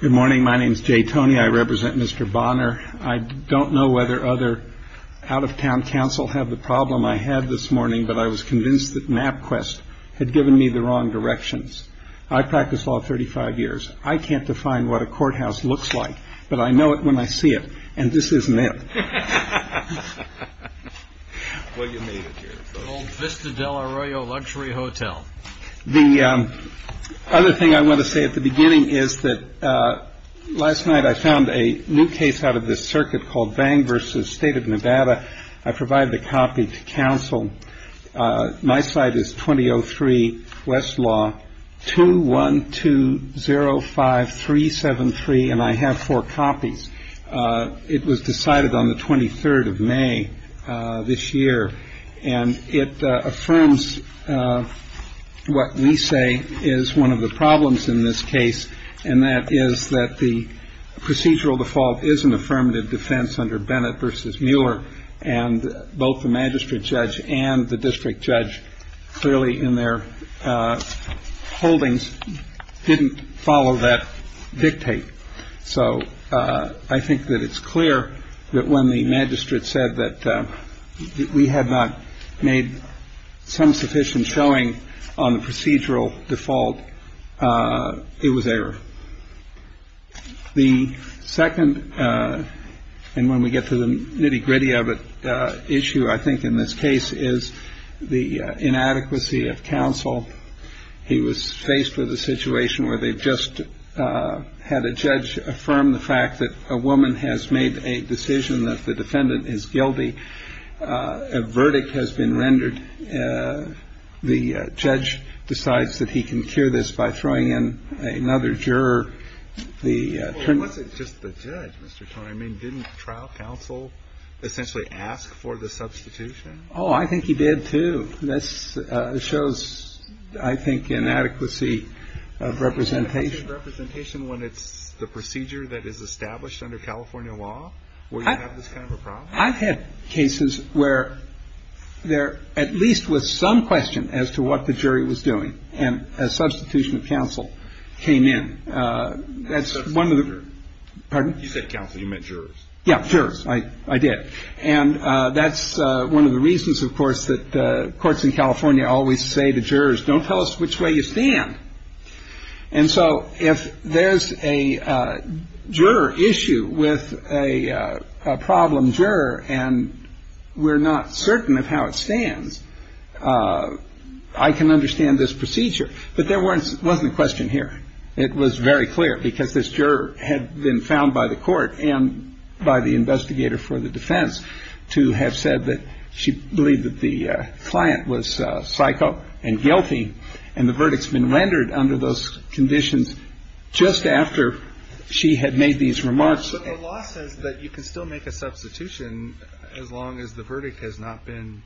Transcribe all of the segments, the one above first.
Good morning. My name is Jay Toney. I represent Mr. Bonner. I don't know whether other out-of-town counsel have the problem I had this morning, but I was convinced that MapQuest had given me the wrong directions. I practiced law 35 years. I can't define what a courthouse looks like, but I know it when I see it, and this isn't it. Old Vista Del Arroyo Luxury Hotel The other thing I want to say at the beginning is that last night I found a new case out of this circuit called Bang v. State of Nevada. I provided a copy to counsel. My site is 2003 Westlaw 21205373, and I have four copies. It was decided on the 23rd of May this year, and it affirms what we say is one of the problems in this case, and that is that the procedural default is an affirmative defense under Bennett v. Mueller, and both the magistrate judge and the district judge clearly in their holdings didn't follow that dictate. So I think that it's clear that when the magistrate said that we had not made some sufficient showing on the procedural default, it was error. The second, and when we get to the nitty gritty of it, issue I think in this case is the inadequacy of counsel. He was faced with a situation where they just had a judge affirm the fact that a woman has made a decision that the defendant is guilty. A verdict has been rendered. The judge decides that he can cure this by throwing in another juror. The term... Well, it wasn't just the judge, Mr. Turner. I mean, didn't trial counsel essentially ask for the substitution? Oh, I think he did, too. This shows, I think, inadequacy of representation. Inadequacy of representation when it's the procedure that is established under California law, where you have this kind of a problem? I've had cases where there at least was some question as to what the jury was doing, and a substitution of counsel came in. That's one of the... Substitution of jurors. Pardon? You said counsel. You meant jurors. Yeah, jurors. I did. And that's one of the reasons, of course, that courts in California always say to jurors, don't tell us which way you stand. And so if there's a juror issue with a problem juror and we're not certain of how it stands, I can understand this procedure. But there wasn't a question here. It was very clear because this juror had been found by the court and by the investigator for the defense to have said that she believed that the client was psycho and guilty. And the verdict's been rendered under those conditions just after she had made these remarks. But the law says that you can still make a substitution as long as the verdict has not been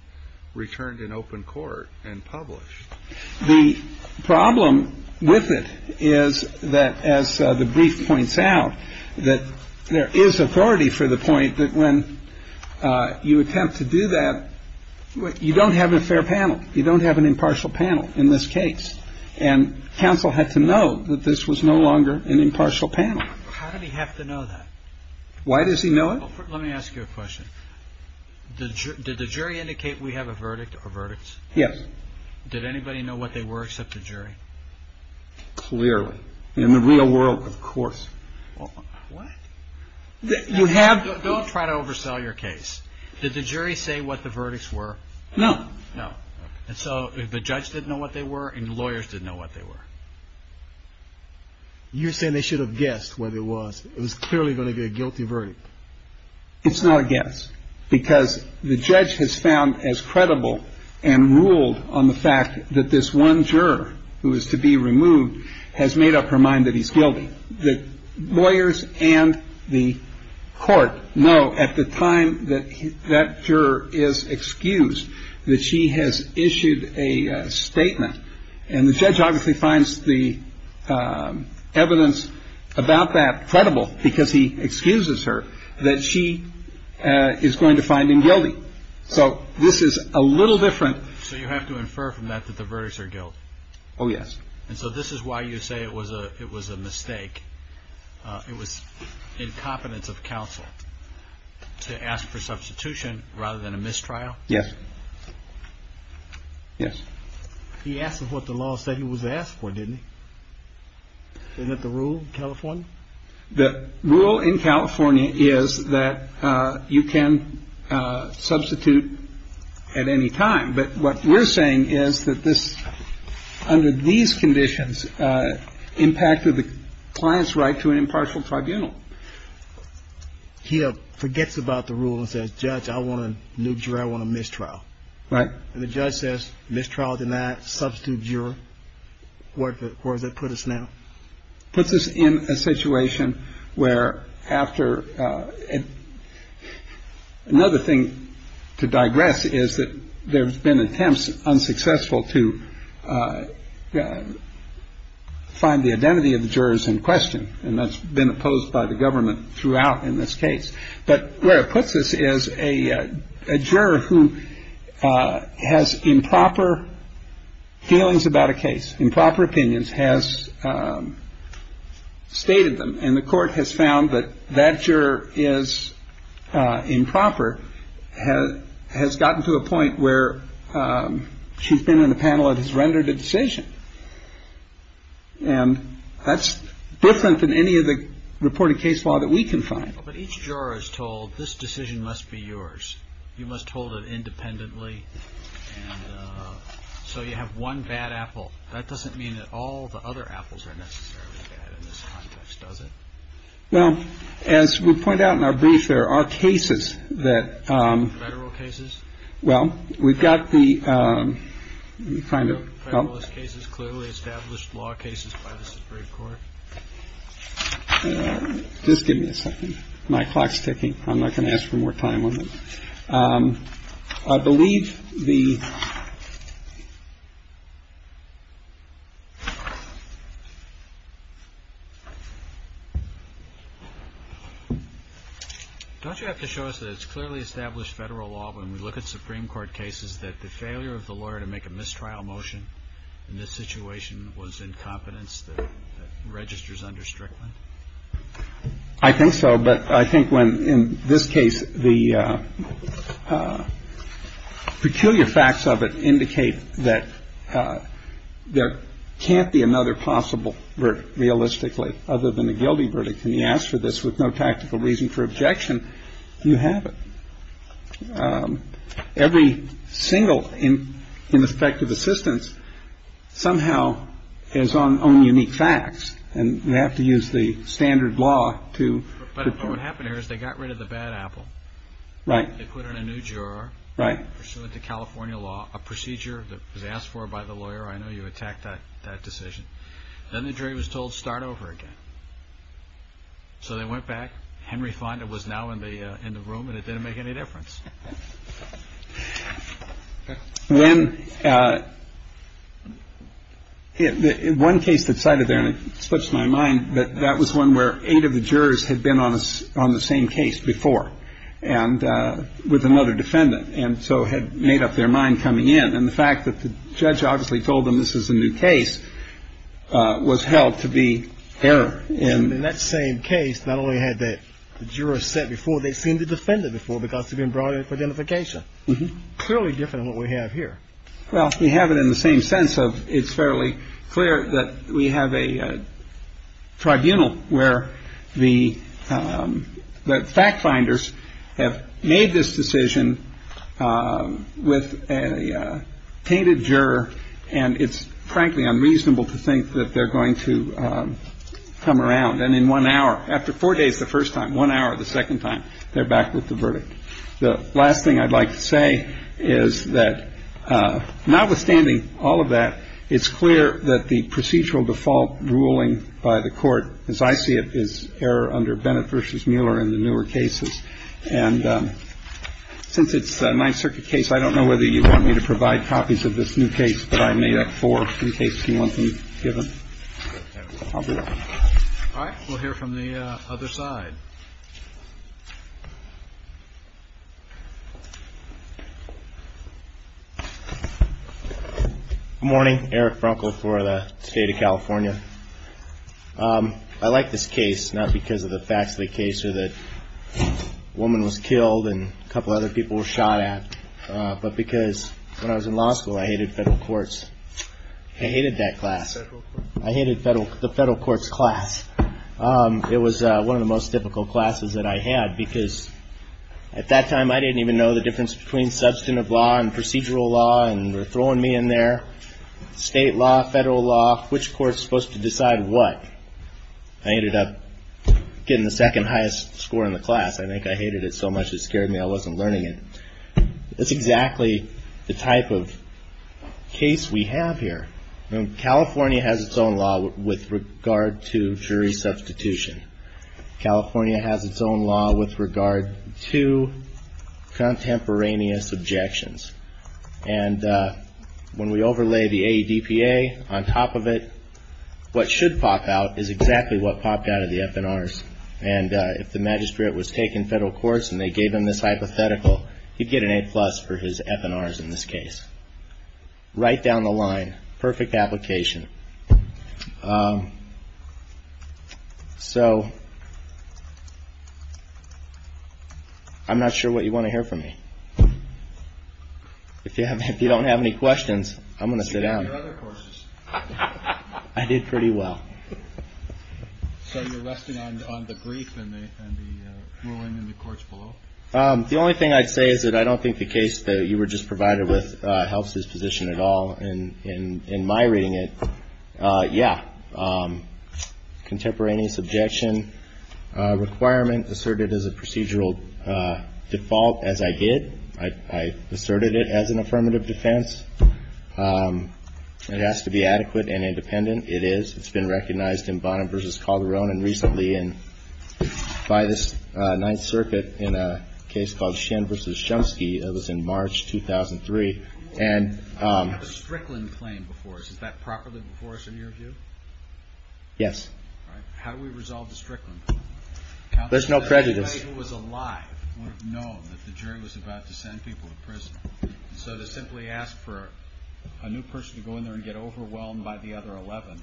returned in open court and published. The problem with it is that, as the brief points out, that there is authority for the point that when you attempt to do that, you don't have a fair panel. You don't have an impartial panel in this case. And counsel had to know that this was no longer an impartial panel. How did he have to know that? Why does he know it? Let me ask you a question. Did the jury indicate we have a verdict or verdicts? Yes. Did anybody know what they were except the jury? Clearly. In the real world, of course. What? You have to try to oversell your case. Did the jury say what the verdicts were? No, no. And so the judge didn't know what they were and the lawyers didn't know what they were. You're saying they should have guessed what it was, it was clearly going to be a guilty verdict. It's not a guess because the judge has found as credible and ruled on the fact that this one juror who is to be removed has made up her mind that he's guilty. The lawyers and the court know at the time that that juror is excused that she has issued a statement. And the judge obviously finds the evidence about that credible because he excuses her that she is going to find him guilty. So this is a little different. So you have to infer from that that the verdicts are guilt. Oh, yes. And so this is why you say it was a it was a mistake. It was incompetence of counsel to ask for substitution rather than a mistrial. Yes. Yes. He asked what the law said he was asked for, didn't he? Isn't that the rule in California? The rule in California is that you can substitute at any time. But what we're saying is that this under these conditions impacted the client's right to an impartial tribunal. He forgets about the rules as judge. I want to nuke you. I want a mistrial. Right. And the judge says mistrial denied substitute juror. Where does that put us now? Puts us in a situation where after another thing to digress is that there's been attempts unsuccessful to find the identity of the jurors in question. And that's been opposed by the government throughout in this case. But where it puts us is a juror who has improper feelings about a case. Improper opinions has stated them. And the court has found that that juror is improper, has gotten to a point where she's been in a panel that has rendered a decision. And that's different than any of the reported case law that we can find. But each juror is told this decision must be yours. You must hold it independently. So you have one bad apple. That doesn't mean that all the other apples are necessarily bad in this context, does it? Well, as we point out in our brief, there are cases that federal cases. Well, we've got the kind of cases clearly established law cases by the Supreme Court. Just give me a second. My clock's ticking. I'm not going to ask for more time on this. I believe the. Don't you have to show us that it's clearly established federal law when we look at Supreme Court cases, that the failure of the lawyer to make a mistrial motion in this situation was incompetence that registers under Strickland? I think so. But I think when in this case, the peculiar facts of it indicate that there can't be another possible verdict, realistically, other than a guilty verdict. Can you ask for this with no tactical reason for objection? You have it. Every single ineffective assistance somehow is on unique facts. And we have to use the standard law to. But what happened here is they got rid of the bad apple. Right. They put in a new juror. Right. Pursuant to California law, a procedure that was asked for by the lawyer. I know you attacked that decision. Then the jury was told, start over again. So they went back. Henry Fonda was now in the in the room and it didn't make any difference. When in one case that cited there and it slips my mind that that was one where eight of the jurors had been on us on the same case before and with another defendant and so had made up their mind coming in. And the fact that the judge obviously told them this is a new case was held to be error in that same case. Not only had that juror said before, they seem to defend it before because they've been brought in for identification. Clearly different what we have here. Well, we have it in the same sense of it's fairly clear that we have a tribunal where the fact finders have made this decision with a painted juror. And it's frankly unreasonable to think that they're going to come around. And in one hour, after four days, the first time, one hour, the second time they're back with the verdict. The last thing I'd like to say is that notwithstanding all of that, it's clear that the procedural default ruling by the court, as I see it, is error under Bennett versus Mueller in the newer cases. And since it's a Ninth Circuit case, I don't know whether you want me to provide copies of this new case, but I made up for in case you want them given. All right. We'll hear from the other side. Morning, Eric Brunkle for the state of California. I like this case, not because of the facts of the case or that woman was killed and a couple of other people were shot at, but because when I was in law school, I hated federal courts. I hated that class. I hated the federal courts class. It was one of the most difficult classes that I had because at that time, I didn't even know the difference between substantive law and procedural law. And they're throwing me in their state law, federal law, which court's supposed to decide what I ended up getting the second highest score in the class. I think I hated it so much it scared me. I wasn't learning it. That's exactly the type of case we have here. California has its own law with regard to jury substitution. California has its own law with regard to contemporaneous objections. And when we overlay the ADPA on top of it, what should pop out is exactly what popped out of the FNRs. And if the magistrate was taking federal courts and they gave him this hypothetical, he'd get an A plus for his FNRs in this case. Right down the line, perfect application. So I'm not sure what you want to hear from me. If you don't have any questions, I'm going to sit down. I did pretty well. So you're resting on the grief and the ruling in the courts below? The only thing I'd say is that I don't think the case that you were just provided with helps his position at all. And in my reading it, yeah, contemporaneous objection requirement asserted as a procedural default. As I did, I asserted it as an affirmative defense. It has to be adequate and independent. It is. It's been recognized in Bonham v. Calderon and recently by the Ninth Circuit in a case called Shen v. Shumsky. That was in March 2003. And the Strickland claim before us, is that properly before us in your view? Yes. How do we resolve the Strickland claim? There's no prejudice. Anybody who was alive would have known that the jury was about to send people to prison. So to simply ask for a new person to go in there and get overwhelmed by the other 11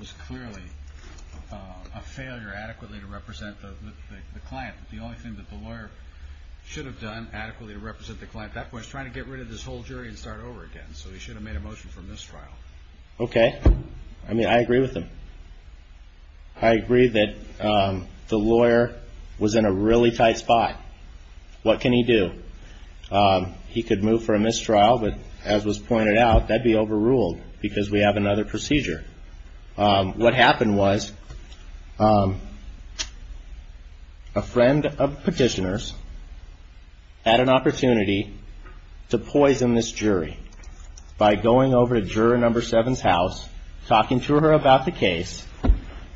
was clearly a failure adequately to represent the client. The only thing that the lawyer should have done adequately to represent the client at that point was trying to get rid of this whole jury and start over again. So he should have made a motion for mistrial. Okay. I mean, I agree with him. I agree that the lawyer was in a really tight spot. What can he do? He could move for a mistrial, but as was pointed out, that'd be overruled because we have another procedure. What happened was a friend of petitioners had an opportunity to poison this jury by going over to juror number seven's house, talking to her about the case.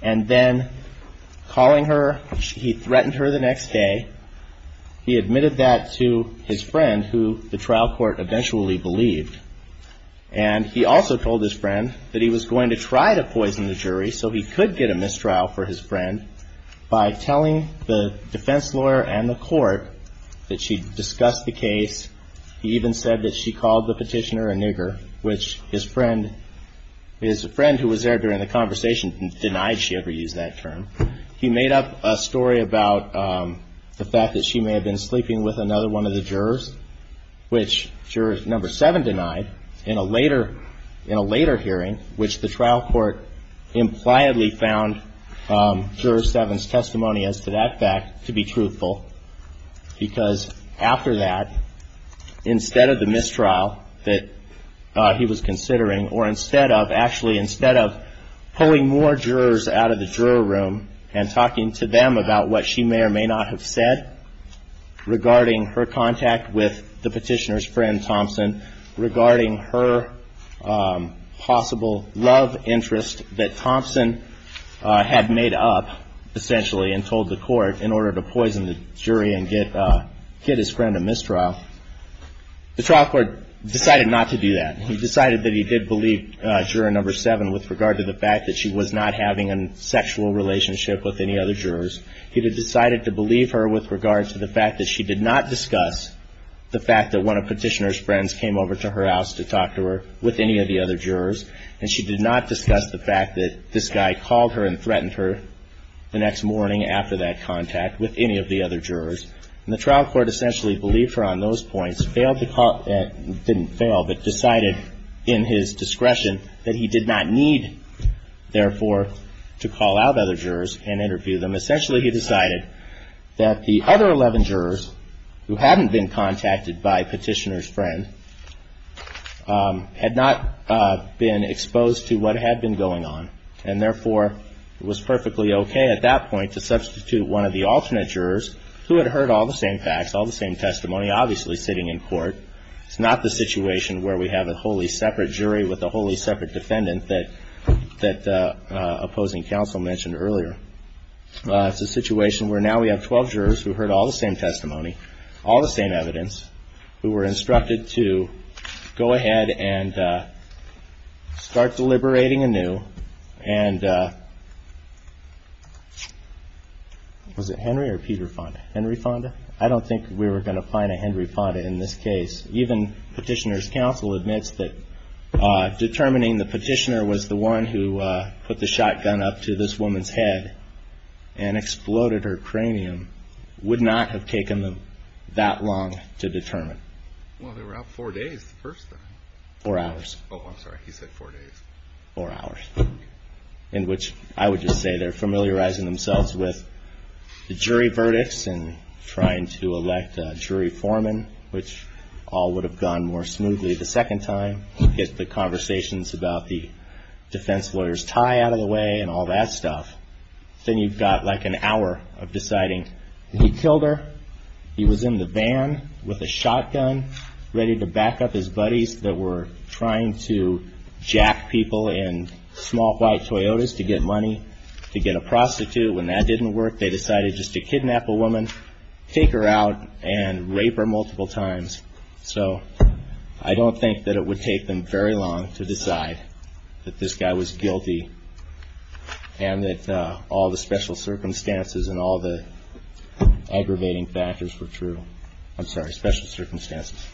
And then calling her, he threatened her the next day. He admitted that to his friend who the trial court eventually believed. And he also told his friend that he was going to try to poison the jury so he could get a mistrial for his friend by telling the defense lawyer and the court that she discussed the case. He even said that she called the petitioner a nigger, which his friend, his friend who was there during the conversation denied she ever used that term. He made up a story about the fact that she may have been sleeping with another one of the jurors, which juror number seven denied in a later hearing, which the trial court impliedly found juror seven's testimony as to that fact to be truthful. Because after that, instead of the mistrial that he was considering, or instead of, actually, instead of pulling more jurors out of the juror room and talking to them about what she may or may not have said regarding her contact with the petitioner's friend, Thompson, regarding her possible love interest that Thompson had made up, essentially, and told the court in order to poison the jury. And get his friend a mistrial, the trial court decided not to do that. He decided that he did believe juror number seven with regard to the fact that she was not having a sexual relationship with any other jurors. He decided to believe her with regard to the fact that she did not discuss the fact that one of petitioner's friends came over to her house to talk to her with any of the other jurors. And she did not discuss the fact that this guy called her and threatened her the next morning after that contact with any of the other jurors. And the trial court essentially believed her on those points, failed to call, didn't fail, but decided in his discretion that he did not need, therefore, to call out other jurors and interview them. Essentially, he decided that the other 11 jurors who hadn't been contacted by petitioner's friend had not been exposed to what had been going on. And therefore, it was perfectly okay at that point to substitute one of the alternate jurors who had heard all the same facts, all the same testimony, obviously sitting in court. It's not the situation where we have a wholly separate jury with a wholly separate defendant that the opposing counsel mentioned earlier. It's a situation where now we have 12 jurors who heard all the same testimony, all the same evidence, who were instructed to go ahead and start deliberating anew. And was it Henry or Peter Fonda? Henry Fonda? I don't think we were going to find a Henry Fonda in this case. Even petitioner's counsel admits that determining the petitioner was the one who put the shotgun up to this woman's head and exploded her cranium would not have taken them that long to determine. Well, they were out four days the first time. Four hours. Oh, I'm sorry. He said four days. Four hours. In which I would just say they're familiarizing themselves with the jury verdicts and trying to elect a jury foreman, which all would have gone more smoothly the second time. Get the conversations about the defense lawyer's tie out of the way and all that stuff. Then you've got like an hour of deciding he killed her. He was in the van with a shotgun ready to back up his buddies that were trying to jack people in small white Toyotas to get money to get a prostitute. When that didn't work, they decided just to kidnap a woman, take her out and rape her multiple times. So I don't think that it would take them very long to decide that this guy was guilty and that all the special circumstances and all the aggravating factors were true. I'm sorry. Special circumstances.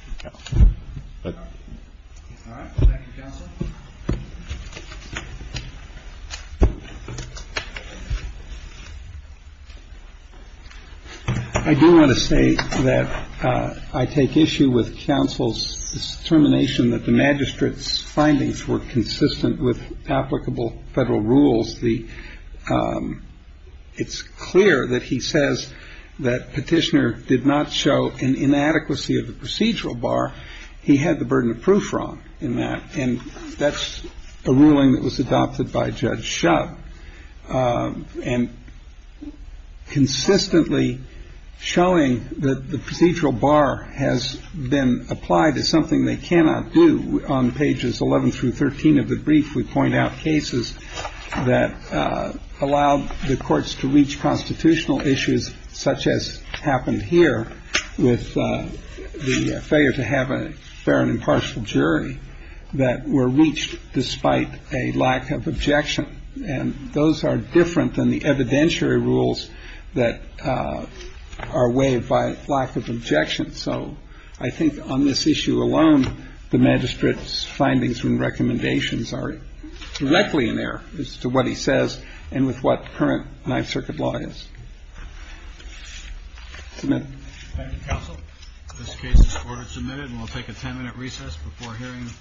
I do want to say that I take issue with counsel's determination that the magistrate's findings were consistent with applicable federal rules. The it's clear that he says that petitioner did not show an inadequacy of the procedural bar. He had the burden of proof wrong in that. And that's a ruling that was adopted by Judge Shutt and consistently showing that the procedural bar has been applied to something they cannot do. On pages 11 through 13 of the brief, we point out cases that allowed the courts to reach constitutional issues such as happened here with the failure to have a fair and impartial jury that were reached despite a lack of objection. And those are different than the evidentiary rules that are waived by lack of objection. So I think on this issue alone, the magistrate's findings and recommendations are directly in there as to what he says and with what current Ninth Circuit law is. This case is submitted and we'll take a 10 minute recess before hearing.